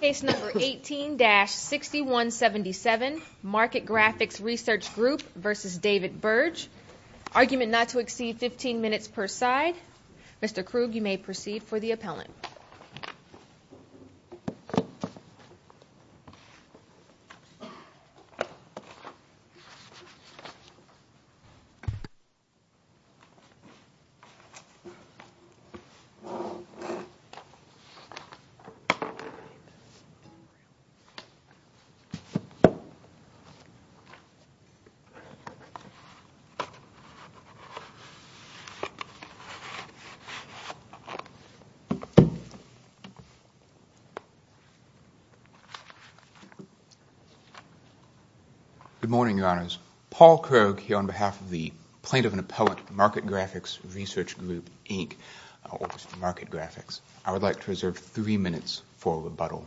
Case number 18-6177, MarketGraphics Research Group versus David Berge. Argument not to exceed 15 minutes per side. Mr. Krug, you may proceed for the appellant. Good morning, Your Honors. Paul Krug here on behalf of the Plaintiff and Appellant, MarketGraphics Research Group, Inc., or MarketGraphics. I would like to reserve three minutes for rebuttal.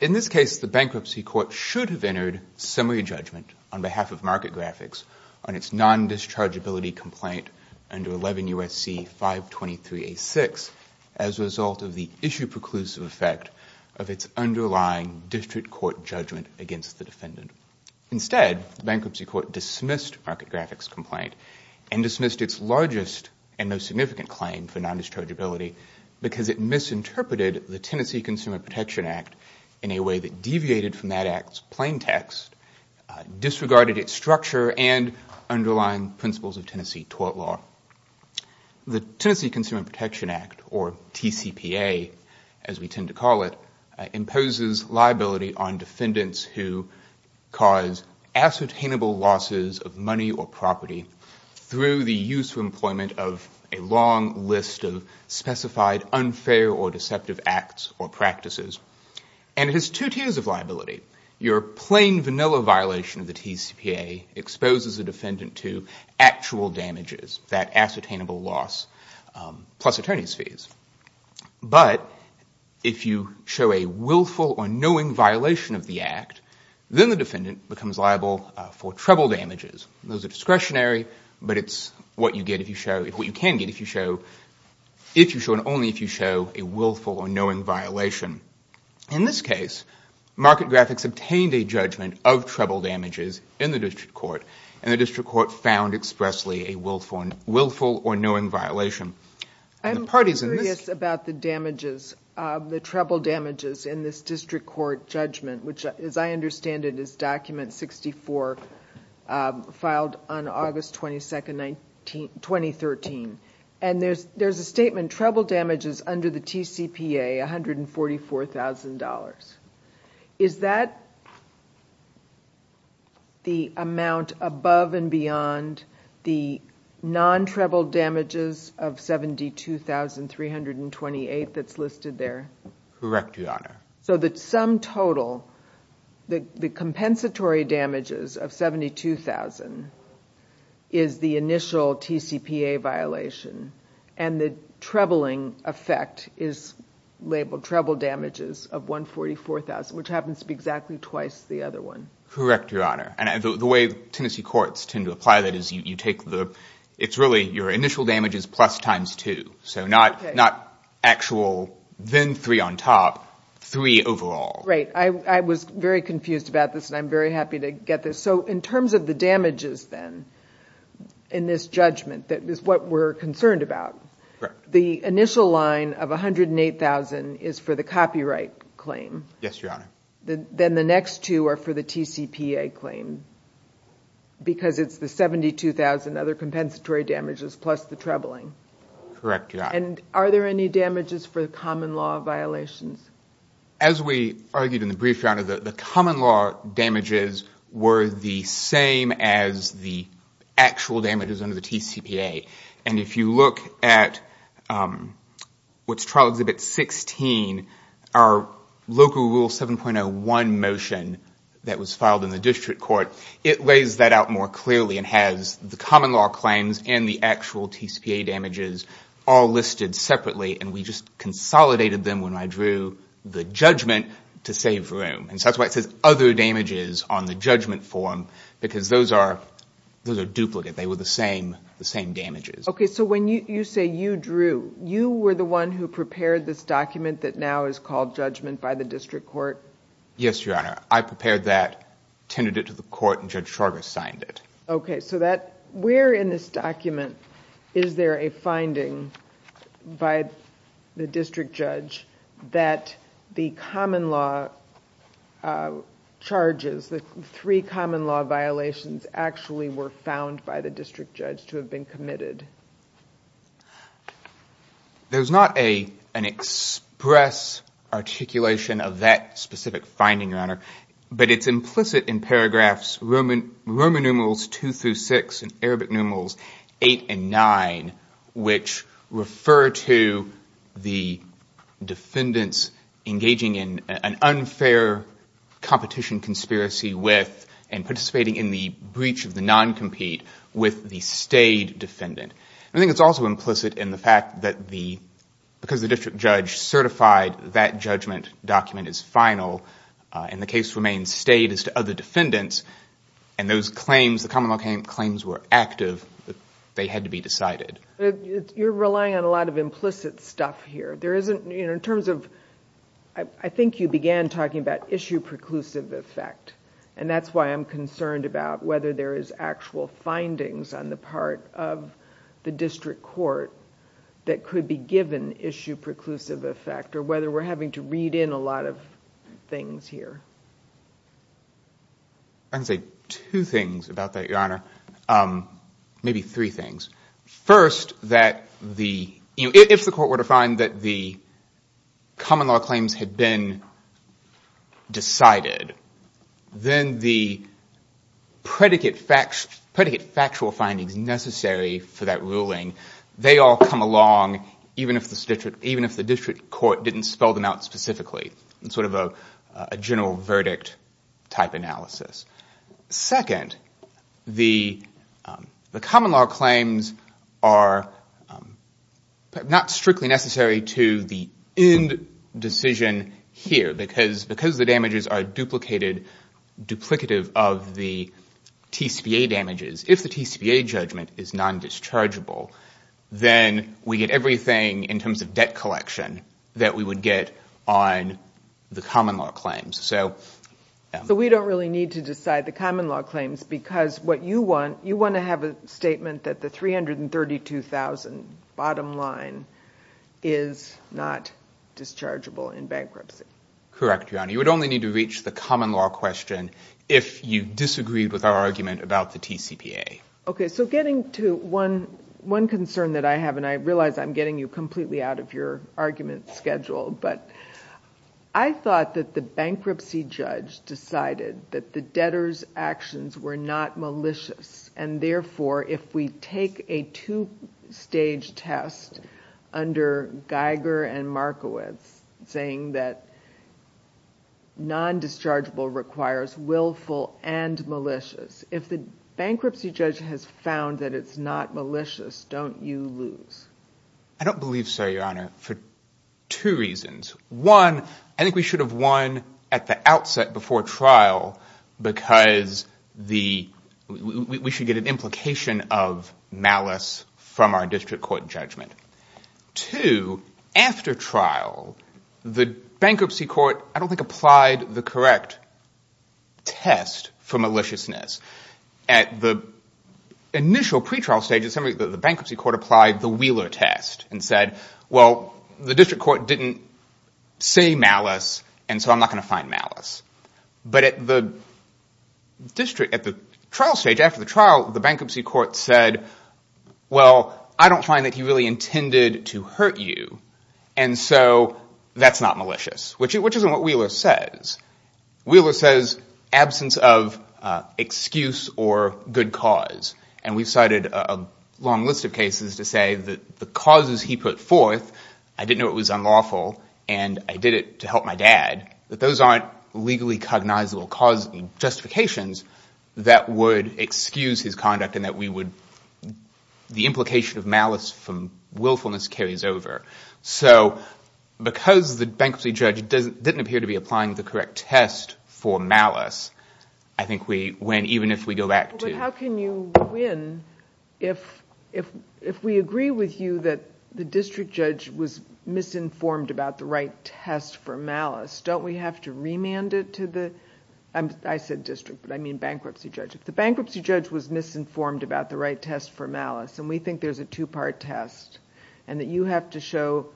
In this case, the Bankruptcy Court should have entered summary judgment on behalf of MarketGraphics on its non-dischargeability complaint under 11 U.S.C. 523-A-6 as a result of the issue-preclusive effect of its underlying district court judgment against the defendant. Instead, the Bankruptcy Court dismissed MarketGraphics' complaint and dismissed its largest and most non-dischargeability because it misinterpreted the Tennessee Consumer Protection Act in a way that deviated from that act's plain text, disregarded its structure, and underlying principles of Tennessee tort law. The Tennessee Consumer Protection Act, or TCPA as we tend to call it, imposes liability on defendants who cause ascertainable losses of money or property through the use or employment of a long list of specified unfair or deceptive acts or practices. And it has two tiers of liability. Your plain, vanilla violation of the TCPA exposes a defendant to actual damages, that ascertainable loss, plus attorney's fees. But if you show a willful or knowing violation of the act, then the defendant becomes liable for treble damages. Those are discretionary, but it's what you get if you show, what you can get if you show, if you show, and only if you show a willful or knowing violation. In this case, MarketGraphics obtained a judgment of treble damages in the district court, and the district court found expressly a willful or knowing violation. I'm curious about the damages, the treble damages in this district court judgment, which as I understand it is document 64, filed on August 22nd, 2013. And there's a statement, treble damages under the TCPA, $144,000. Is that the amount above and beyond the non-treble damages of $72,328 that's listed there? Correct, Your Honor. So the sum total, the compensatory damages of $72,000 is the initial TCPA violation, and the trebling effect is labeled treble damages of $144,000, which happens to be exactly twice the other one. Correct, Your Honor. And the way Tennessee courts tend to apply that is you take the, it's really your initial damages plus times two, so not actual, then three on top, three overall. Right. I was very confused about this, and I'm very happy to get this. So in terms of the damages then, in this judgment, that is what we're concerned about, the initial line of $108,000 is for the copyright claim, then the next two are for the TCPA claim, because it's the $72,000 other compensatory damages plus the trebling. Correct, Your Honor. And are there any damages for the common law violations? As we argued in the brief, Your Honor, the common law damages were the same as the actual damages under the TCPA. And if you look at what's trial exhibit 16, our local rule 7.01 motion that was filed in the district court, it lays that out more clearly and has the common law claims and the actual TCPA damages all listed separately, and we just consolidated them when I drew the judgment to save room. And so that's why it says other damages on the judgment form, because those are duplicate. They were the same damages. Okay, so when you say you drew, you were the one who prepared this document that now is called judgment by the district court? Yes, Your Honor. I prepared that, tended it to the court, and Judge Chargas signed it. Okay, so where in this document is there a finding by the district judge that the common law charges, the three common law violations actually were found by the district judge to have been committed? There's not an express articulation of that specific finding, Your Honor, but it's implicit in paragraphs Roman numerals two through six and Arabic numerals eight and nine, which refer to the defendants engaging in an unfair competition conspiracy with and participating in the breach of the non-compete with the stayed defendant. I think it's also implicit in the fact that because the district judge certified that judgment document is final and the case remains stayed as to other defendants, and those claims, the common law claims were active, they had to be decided. You're relying on a lot of implicit stuff here. There isn't, in terms of, I think you began talking about issue preclusive effect, and that's why I'm concerned about whether there is actual findings on the part of the district court that could be given issue preclusive effect, or whether we're having to read in a lot of things here. I can say two things about that, Your Honor, maybe three things. First that if the court were to find that the common law claims had been decided, then the predicate factual findings necessary for that ruling, they all come along even if the district court didn't spell them out specifically, in sort of a general verdict type analysis. Second, the common law claims are not strictly necessary to the end decision here, because the damages are duplicated, duplicative of the TCPA damages. If the TCPA judgment is non-dischargeable, then we get everything in terms of debt collection that we would get on the common law claims. We don't really need to decide the common law claims, because what you want, you want to have a statement that the $332,000 bottom line is not dischargeable in bankruptcy. Correct, Your Honor. You would only need to reach the common law question if you disagreed with our argument about the TCPA. Okay, so getting to one concern that I have, and I realize I'm getting you completely out of your argument schedule, but I thought that the bankruptcy judge decided that the debtor's actions were not malicious, and therefore if we take a two-stage test under Geiger and non-dischargeable requires willful and malicious. If the bankruptcy judge has found that it's not malicious, don't you lose? I don't believe so, Your Honor, for two reasons. One, I think we should have won at the outset before trial, because we should get an implication of malice from our district court judgment. Two, after trial, the bankruptcy court, I don't think, applied the correct test for maliciousness. At the initial pretrial stage, the bankruptcy court applied the Wheeler test and said, well, the district court didn't say malice, and so I'm not going to find malice. But at the trial stage, after the trial, the bankruptcy court said, well, I don't find that he really intended to hurt you, and so that's not malicious, which isn't what Wheeler says. Wheeler says absence of excuse or good cause, and we've cited a long list of cases to say that the causes he put forth, I didn't know it was unlawful, and I did it to help my dad, that those aren't legally cognizable justifications that would excuse his conduct and that we willfulness carries over. Because the bankruptcy judge didn't appear to be applying the correct test for malice, I think we win even if we go back to... But how can you win if we agree with you that the district judge was misinformed about the right test for malice? Don't we have to remand it to the... I said district, but I mean bankruptcy judge. If the bankruptcy judge was misinformed about the right test for malice, and we think there's a two-part test, and that you have to show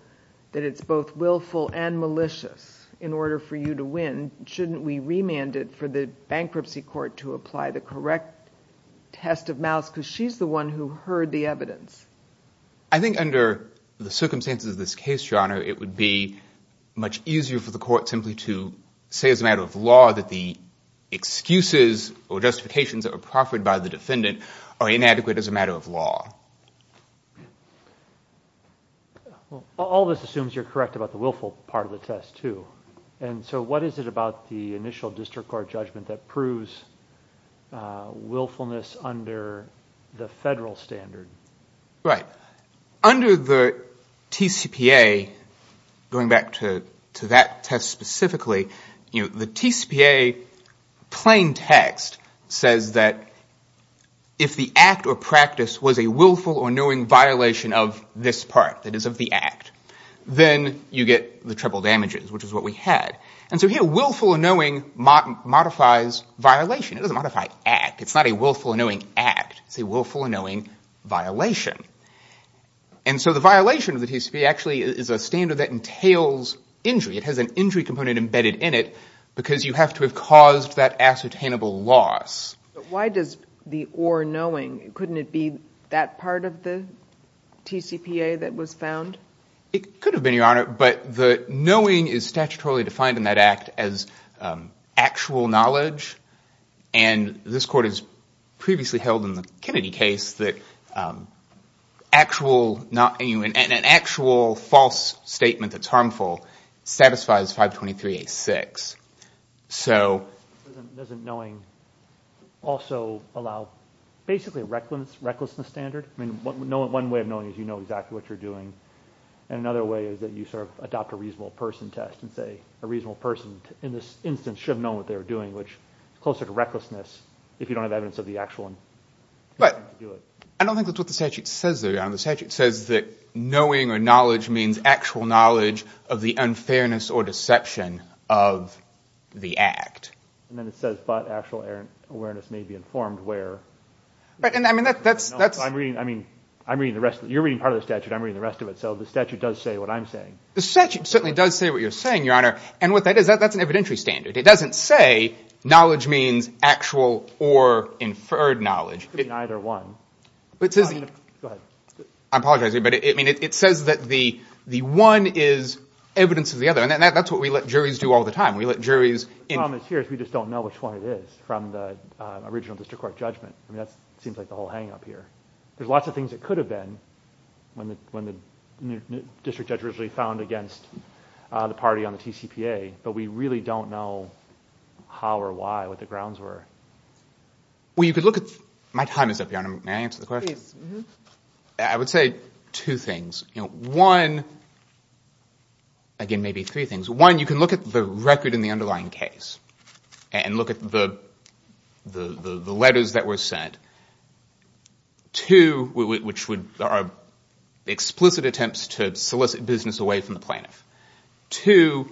that it's both willful and malicious in order for you to win, shouldn't we remand it for the bankruptcy court to apply the correct test of malice because she's the one who heard the evidence? I think under the circumstances of this case, Your Honor, it would be much easier for the court simply to say as a matter of law that the excuses or justifications that were proffered by the defendant are inadequate as a matter of law. All this assumes you're correct about the willful part of the test, too, and so what is it about the initial district court judgment that proves willfulness under the federal standard? Right. Under the TCPA, going back to that test specifically, the TCPA plain text says that if the act or practice was a willful or knowing violation of this part, that is of the act, then you get the triple damages, which is what we had, and so here willful or knowing modifies violation. It doesn't modify act. It's not a willful or knowing act. It's a willful or knowing violation, and so the violation of the TCPA actually is a standard that entails injury. It has an injury component embedded in it because you have to have caused that ascertainable loss. But why does the or knowing? Couldn't it be that part of the TCPA that was found? It could have been, Your Honor, but the knowing is statutorily defined in that act as actual knowledge, and this court has previously held in the Kennedy case that an actual false statement that's harmful satisfies 523A6, so... Doesn't knowing also allow basically a recklessness standard? One way of knowing is you know exactly what you're doing, and another way is that you sort of adopt a reasonable person test and say a reasonable person in this instance should have known what they were doing, which is closer to recklessness if you don't have evidence of the actual... But I don't think that's what the statute says there, Your Honor. The statute says that knowing or knowledge means actual knowledge of the unfairness or deception of the act. And then it says, but actual awareness may be informed where... But, I mean, that's... No, I'm reading... I mean, I'm reading the rest. You're reading part of the statute. I'm reading the rest of it, so the statute does say what I'm saying. The statute certainly does say what you're saying, Your Honor, and what that is, that's an evidentiary standard. It doesn't say knowledge means actual or inferred knowledge. It could be neither one. It says... Go ahead. I apologize, but it says that the one is evidence of the other, and that's what we let juries do all the time. We let juries... The problem here is we just don't know which one it is from the original district court judgment. I mean, that seems like the whole hang-up here. There's lots of things that could have been when the district judge originally found against the party on the TCPA, but we really don't know how or why, what the grounds were. Well, you could look at... My time is up, Your Honor. May I answer the question? Please. Mm-hmm. I would say two things. One... Again, maybe three things. One, you can look at the record in the underlying case and look at the letters that were sent. Two, which are explicit attempts to solicit business away from the plaintiff. Two,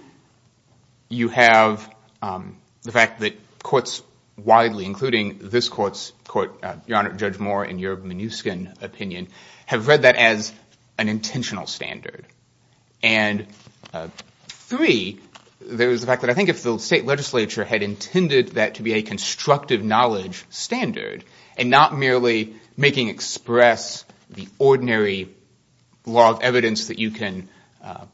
you have the fact that courts widely, including this court's court, Your Honor, Judge Moore, in your Mnuchin opinion, have read that as an intentional standard. And three, there's the fact that I think if the state legislature had intended that to be a constructive knowledge standard, and not merely making express the ordinary law of evidence that you can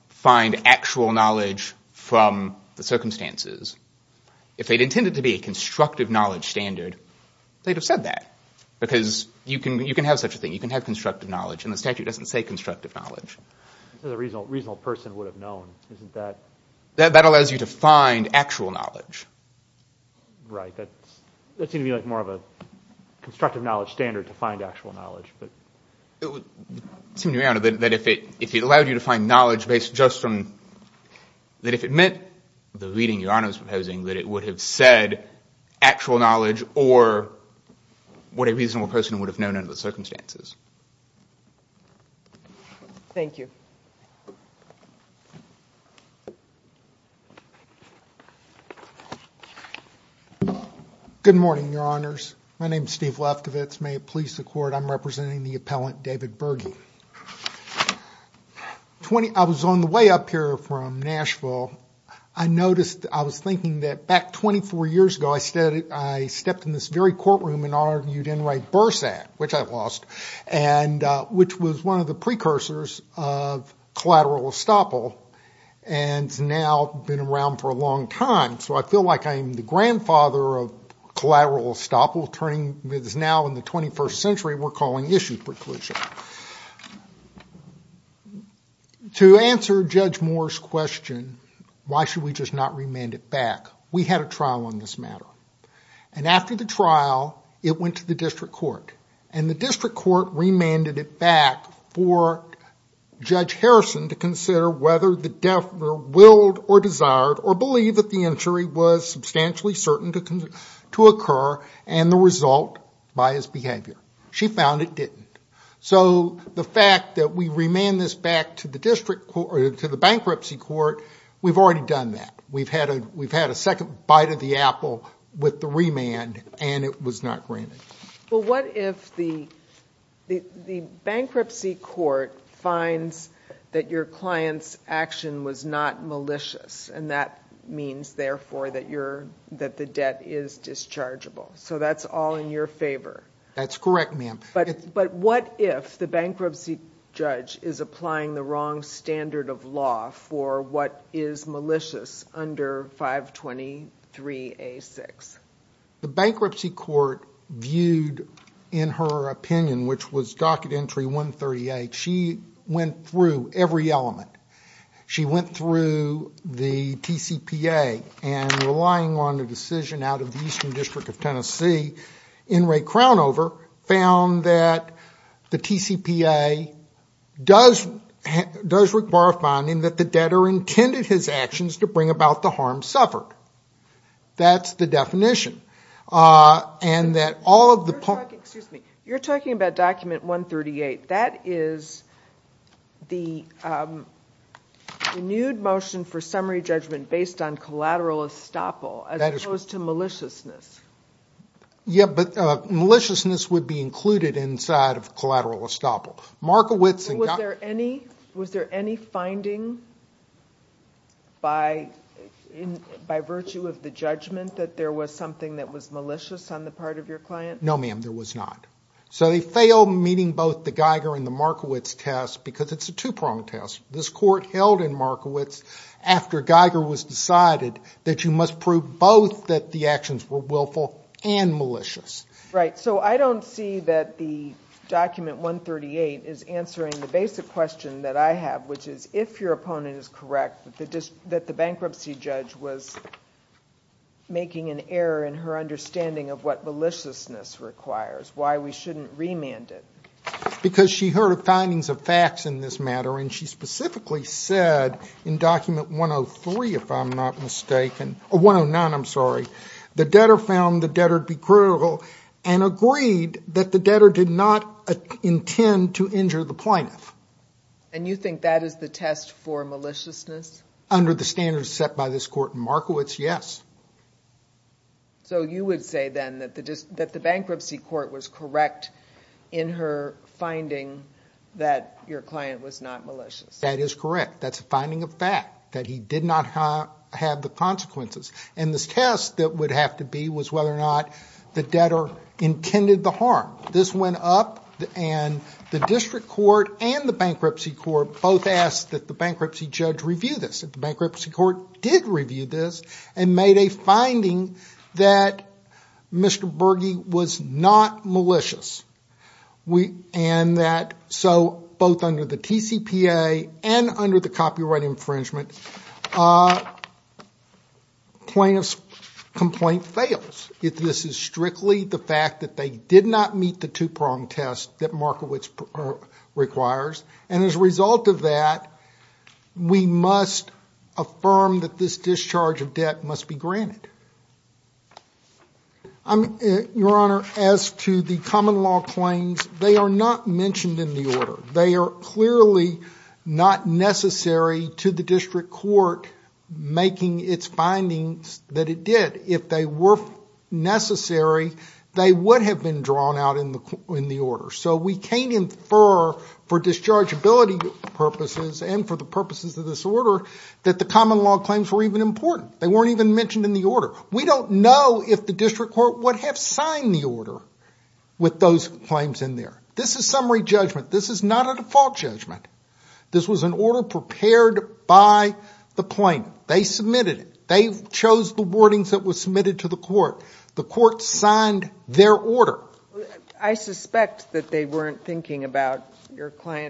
find actual knowledge from the circumstances, if they'd intended to be a constructive knowledge standard, they'd have said that. Because you can have such a thing. You can have constructive knowledge, and the statute doesn't say constructive knowledge. A reasonable person would have known. Isn't that... That allows you to find actual knowledge. Right. That seems to be more of a constructive knowledge standard to find actual knowledge. It would seem to me, Your Honor, that if it allowed you to find knowledge based just on... That if it meant the reading Your Honor is proposing, that it would have said actual knowledge or what a reasonable person would have known under the circumstances. Thank you. Good morning, Your Honors. My name is Steve Lefkovitz. May it please the Court, I'm representing the appellant, David Berge. I was on the way up here from Nashville. I noticed, I was thinking that back 24 years ago, I stepped in this very courtroom and argued Enright Burr's Act, which I lost, and which was one of the precursors of collateral estoppel, and it's now been around for a long time. So I feel like I'm the grandfather of collateral estoppel turning... It is now in the 21st century we're calling issue preclusion. To answer Judge Moore's question, why should we just not remand it back? We had a trial on this matter. And after the trial, it went to the district court. And the district court remanded it back for Judge Harrison to consider whether the defendant willed or desired or believed that the injury was substantially certain to occur and the result biased behavior. She found it didn't. So the fact that we remand this back to the bankruptcy court, we've already done that. We've had a second bite of the apple with the remand, and it was not granted. Well, what if the bankruptcy court finds that your client's action was not malicious and that means, therefore, that the debt is dischargeable? So that's all in your favor? That's correct, ma'am. But what if the bankruptcy judge is applying the wrong standard of law for what is malicious under 523A6? The bankruptcy court viewed, in her opinion, which was docket entry 138, she went through every element. She went through the TCPA and relying on the decision out of the Eastern District of Tennessee, in Ray Crownover, found that the TCPA does require finding that the debtor intended his actions to bring about the harm suffered. That's the definition. You're talking about document 138. That is the renewed motion for summary judgment based on collateral estoppel as opposed to maliciousness. Yeah, but maliciousness would be included inside of collateral estoppel. Was there any finding by virtue of the judgment that there was something that was malicious on the part of your client? No, ma'am, there was not. So they failed meeting both the Geiger and the Markowitz test because it's a two-pronged test. This court held in Markowitz, after Geiger was decided, that you must prove both that the actions were willful and malicious. Right. So I don't see that the document 138 is answering the basic question that I have, which is if your opponent is correct, that the bankruptcy judge was making an error in her understanding of what maliciousness requires, why we shouldn't remand it. Because she heard findings of facts in this matter and she specifically said in document 103, if I'm not mistaken, or 109, I'm sorry, the debtor found the debtor to be critical and agreed that the debtor did not intend to injure the plaintiff. And you think that is the test for maliciousness? Under the standards set by this court in Markowitz, yes. So you would say then that the bankruptcy court was correct in her finding that your client was not malicious? That is correct. That's a finding of fact, that he did not have the consequences. And this test that would have to be was whether or not the debtor intended the harm. This went up and the district court and the bankruptcy court both asked that the bankruptcy judge review this. And the bankruptcy court did review this and made a finding that Mr. Berge was not malicious. And that, so both under the TCPA and under the copyright infringement, plaintiff's complaint fails if this is strictly the fact that they did not meet the two-prong test that Markowitz requires. And as a result of that, we must affirm that this discharge of debt must be granted. Your Honor, as to the common law claims, they are not mentioned in the order. They are clearly not necessary to the district court making its findings that it did. If they were necessary, they would have been drawn out in the order. So we can't infer for dischargeability purposes and for the purposes of this order that the common law claims were even important. They weren't even mentioned in the order. We don't know if the district court would have signed the order with those claims in there. This is summary judgment. This is not a default judgment. This was an order prepared by the plaintiff. They submitted it. They chose the wordings that were submitted to the court. The court signed their order.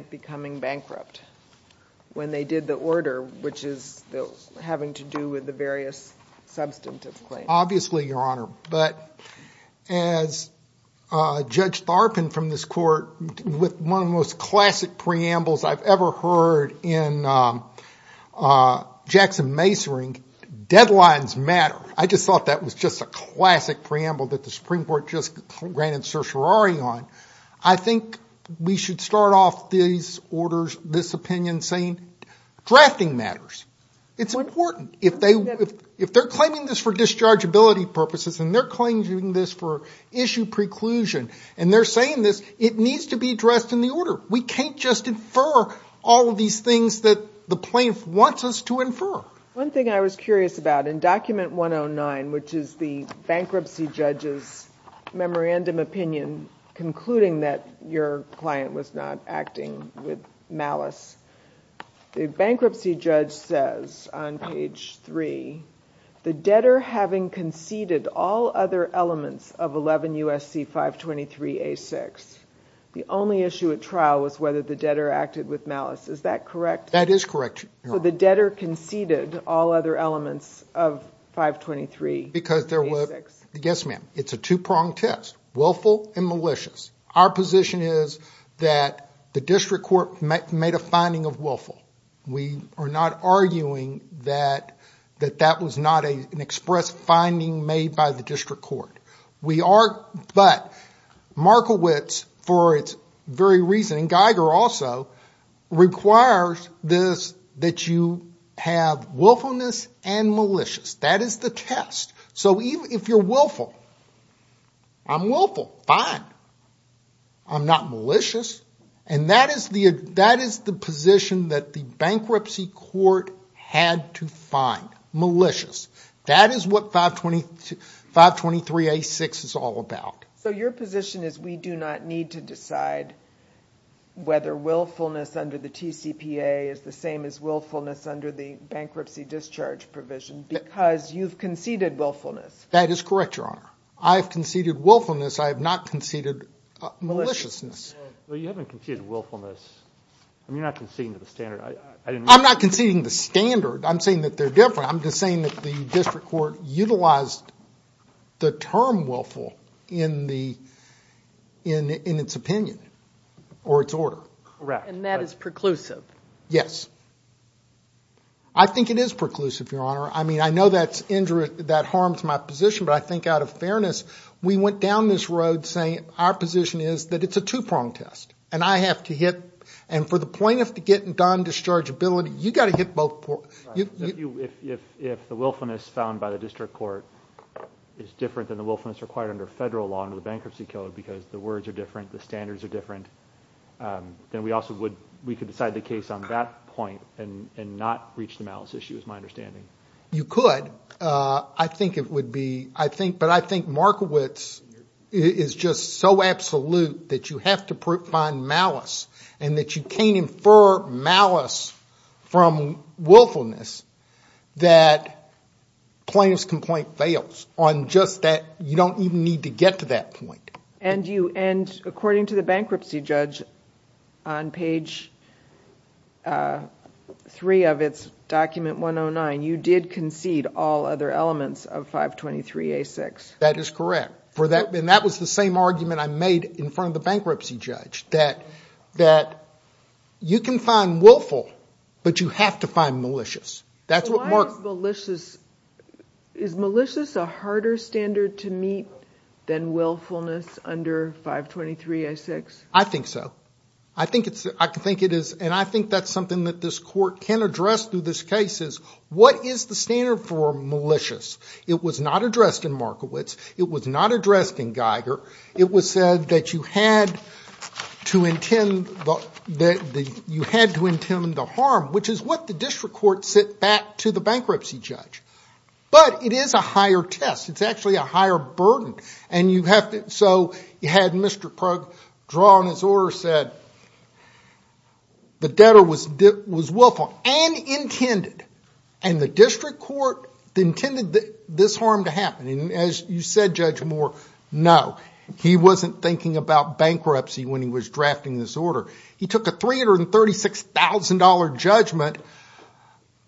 becoming bankrupt when they did the order, which is having to do with the various substantive claims. Obviously, Your Honor. But as Judge Tharpin from this court, with one of the most classic preambles I've ever heard in Jackson-Masering, deadlines matter. I just thought that was just a classic preamble that the Supreme Court just granted certiorari on. I think we should start off this opinion saying, drafting matters. It's important. If they're claiming this for dischargeability purposes and they're claiming this for issue preclusion and they're saying this, it needs to be addressed in the order. We can't just infer all of these things that the plaintiff wants us to infer. One thing I was curious about, in Document 109, which is the bankruptcy judge's memorandum opinion concluding that your client was not acting with malice, the bankruptcy judge says on page three, the debtor having conceded all other elements of 11 U.S.C. 523-A6, the only issue at trial was whether the debtor acted with malice. Is that correct? That is correct, Your Honor. The debtor conceded all other elements of 523-A6. Yes, ma'am. It's a two-pronged test, willful and malicious. Our position is that the district court made a finding of willful. We are not arguing that that was not an express finding made by the district court. We are, but Markowitz, for its very reason, and Geiger also, requires this, that you have willfulness and malicious. That is the test. If you're willful, I'm willful, fine. I'm not malicious. That is the position that the bankruptcy court had to find, malicious. That is what 523-A6 is all about. Your position is we do not need to decide whether willfulness under the TCPA is the same as willfulness under the bankruptcy discharge provision because you've conceded willfulness. That is correct, Your Honor. I've conceded willfulness. I have not conceded maliciousness. You haven't conceded willfulness. You're not conceding to the standard. I'm not conceding the standard. I'm saying that they're different. I'm just saying that the district court utilized the term willful in its opinion or its order. And that is preclusive. Yes. I think it is preclusive, Your Honor. I mean, I know that harms my position, but I think out of fairness, we went down this road saying our position is that it's a two-pronged test. And I have to hit, and for the plaintiff to get done dischargeability, you've got to hit both. If the willfulness found by the district court is different than the willfulness required under federal law under the bankruptcy code because the words are different, the standards are different, then we also would, we could decide the case on that point and not reach the malice issue, is my understanding. You could. I think it would be, I think, but I think Markowitz is just so absolute that you have to find malice and that you can't infer malice from willfulness that plaintiff's complaint fails on just that. You don't even need to get to that point. And you, and according to the bankruptcy judge on page three of its document 109, you did concede all other elements of 523A6. That is correct. For that, and that was the same argument I made in front of the bankruptcy judge that you can find willful, but you have to find malicious. So why is malicious, is malicious a harder standard to meet than willfulness under 523A6? I think so. I think it's, I think it is, and I think that's something that this court can address through this case, is what is the standard for malicious? It was not addressed in Markowitz. It was not addressed in Geiger. It was said that you had to intend the, that you had to intend the harm, which is what the district court sent back to the bankruptcy judge. But it is a higher test. It's actually a higher burden. And you have to, so you had Mr. Prug draw on his order, said the debtor was willful and intended, and the district court intended this harm to happen. And as you said, Judge Moore, no, he wasn't thinking about bankruptcy when he was drafting this order. He took a $336,000 judgment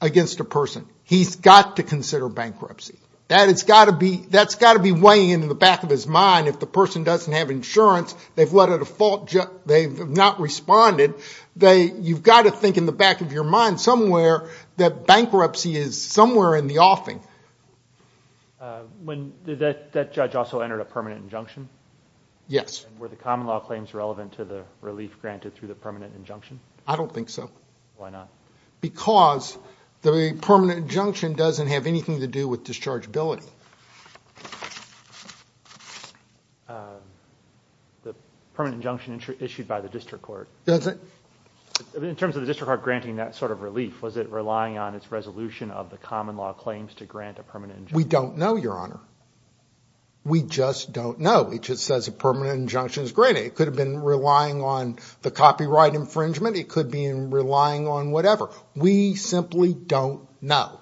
against a person. He's got to consider bankruptcy. That has got to be, that's got to be weighing in the back of his mind if the person doesn't have insurance, they've led a default, they've not responded, they, you've got to think in the back of your mind somewhere that bankruptcy is somewhere in the offing. When, did that judge also enter a permanent injunction? Yes. And were the common law claims relevant to the relief granted through the permanent injunction? I don't think so. Why not? Because the permanent injunction doesn't have anything to do with dischargeability. The permanent injunction issued by the district court. Does it? In terms of the district court granting that sort of relief, was it relying on its resolution of the common law claims to grant a permanent injunction? We don't know, Your Honor. We just don't know. It just says a permanent injunction is granted. It could have been relying on the copyright infringement. It could have been relying on whatever. We simply don't know.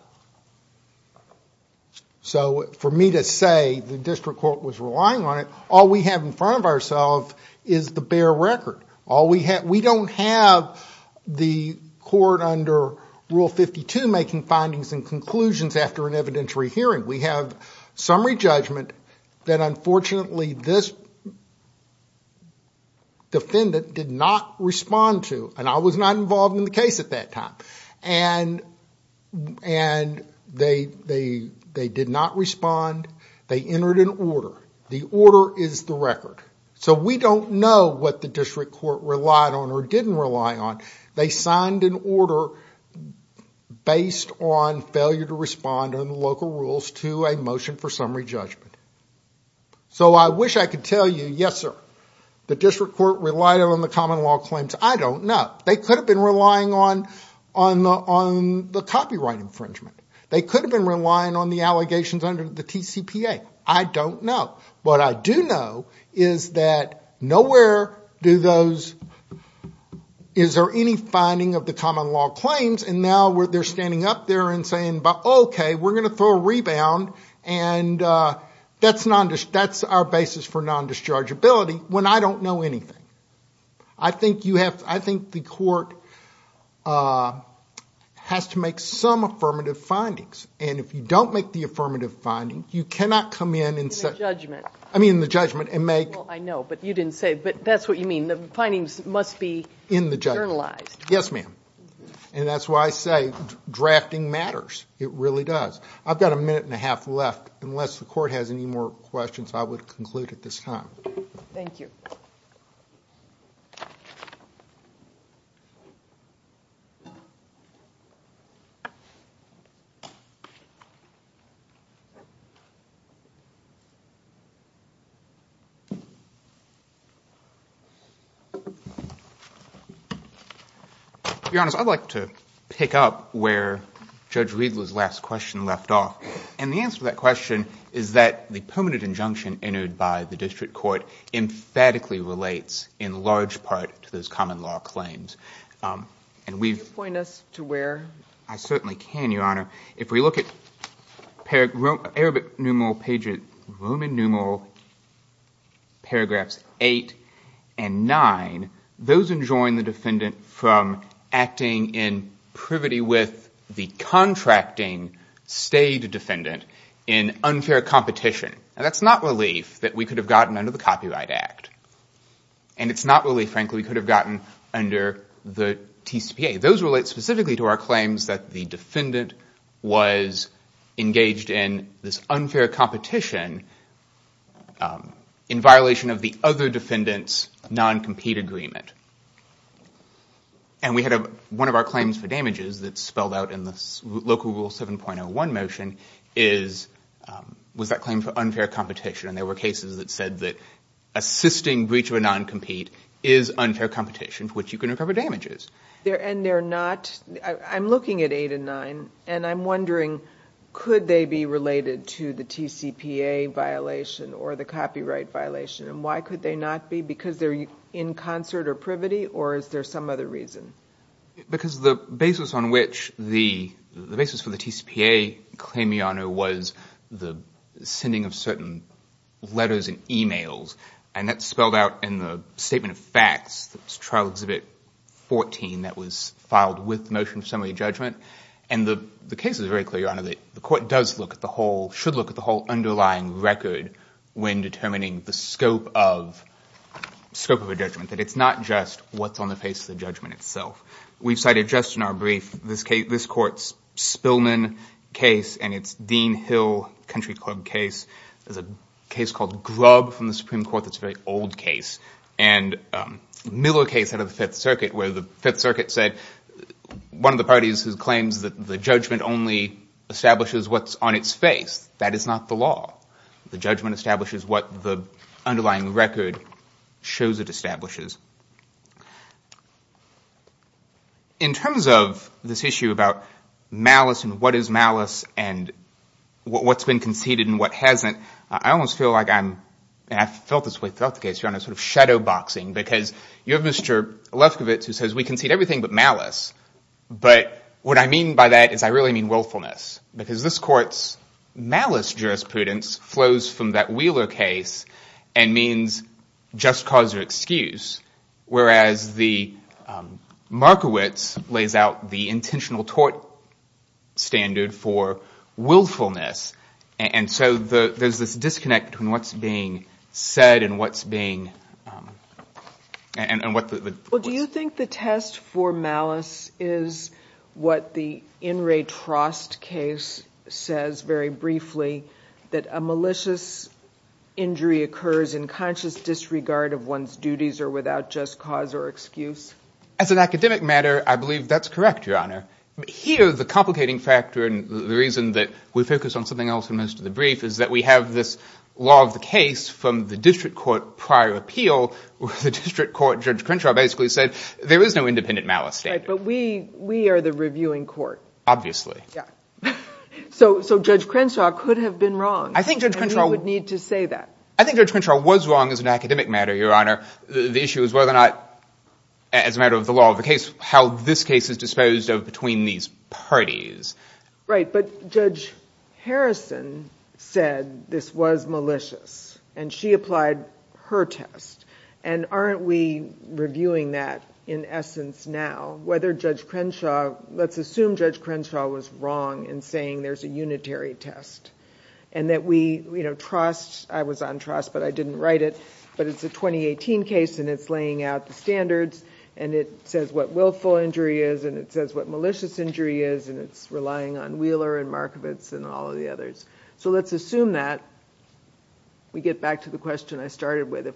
So, for me to say the district court was relying on it, all we have in front of ourselves is the bare record. All we have, we don't have the court under Rule 52 making findings and conclusions after an evidentiary hearing. We have summary judgment that unfortunately this defendant did not respond to. And I was not involved in the case at that time. And, and they, they, they did not respond. They entered an order. The order is the record. So, we don't know what the district court relied on or didn't rely on. They signed an order based on failure to respond on the local rules to a motion for summary judgment. So, I wish I could tell you, yes sir, the district court relied on the common law claims. I don't know. They could have been relying on, on the, on the copyright infringement. They could have been relying on the allegations under the TCPA. I don't know. What I do know is that nowhere do those, is there any finding of the common law claims and now they're standing up there and saying, okay, we're going to throw a rebound and that's non, that's our basis for non-dischargeability when I don't know anything. I think you have, I think the court has to make some affirmative findings. And if you don't make the affirmative finding, you cannot come in and say, In the judgment. I mean, in the judgment and make, Well, I know, but you didn't say, but that's what you mean. The findings must be In the judgment. Journalized. Yes, ma'am. And that's why I say drafting matters. It really does. I've got a minute and a half left. Unless the court has any more questions, I would conclude at this time. Thank you. Your Honor, I'd like to pick up where Judge Riedler's last question left off. And the answer to that question is that the permanent injunction entered by the district court emphatically relates in large part And we've Can you point us to where? I certainly can, Your Honor. If we look at the common law claims that we've heard, there are When we look at Arabic numeral pages Roman numeral paragraphs 8 and 9 those enjoin the defendant from acting in privity with the contracting state defendant in unfair competition. And that's not relief that we could have gotten under the Copyright Act. And it's not relief, frankly, we could have gotten under the TCPA. Those relate specifically to our claims that the defendant was engaged in this unfair competition in violation of the other defendant's non-compete agreement. And we had one of our claims for damages that's spelled out in the local rule 7.01 motion is was that claim for unfair competition. And there were cases that said that assisting breach of a non-compete is unfair competition for which you can recover damages. And they're not, I'm looking at 8 and 9 and I'm wondering could they be related to the TCPA violation or the copyright violation and why could they not be because they're in concert or privity or is there some reason? Because the basis on which the basis for the TCPA claim, Your Honor, was the sending of certain letters and emails. And that's spelled out in the statement of facts, trial exhibit 14 that was filed with the motion of summary And the case is very clear, Your Honor, the court should look at the whole underlying record when determining the scope of a judgment. That it's not just what's on the face of the judgment itself. We've cited just in the first case, where the circuit said, one of the parties claims that the judgment only establishes what's on its face. That is not the law. The judgment establishes what the underlying record shows it establishes. In terms of this case, there's nothing but malice. But what I mean by that is I really mean willfulness. Because this court's malice jurisprudence flows from that Wheeler case and means just cause or excuse. Whereas the Markowitz lays out the intentional tort standard for willfulness. And so there's this disconnect between what's being said and what's being... Well, do you think the test for malice is what the Enray Trost case says very briefly that a malicious injury occurs in conscious judgment? think the issue is that we have this law of the case from the district court prior appeal where the district court judge Crenshaw basically said there is no independent malice standard. But we are the reviewing court. So judge Crenshaw could have been wrong. I think judge Crenshaw was wrong as an academic matter, your honor. The issue is whether or not as a matter of the law of the case, how this case is disposed of between these parties. Right. But judge Harrison said this was malicious. She applied her test. Aren't we reviewing that in essence now? Whether judge Crenshaw was wrong in saying there is a unitary test. I was on trust but I didn't write it. It is a 2018 case and it says what willful injury is and what malicious injury is. Let's assume that we get back to the question I started with.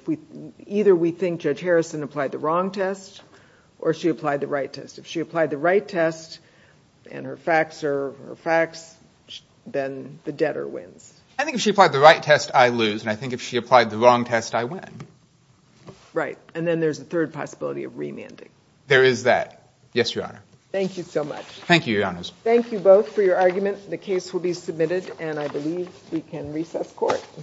Either we think judge Harrison applied the wrong test or she applied the right test. If she applied the right test then the debtor wins. I think if she applied the right test I lose and if she applied the wrong test I win. There is that. Thank you so much. Thank you both for your argument. The case will be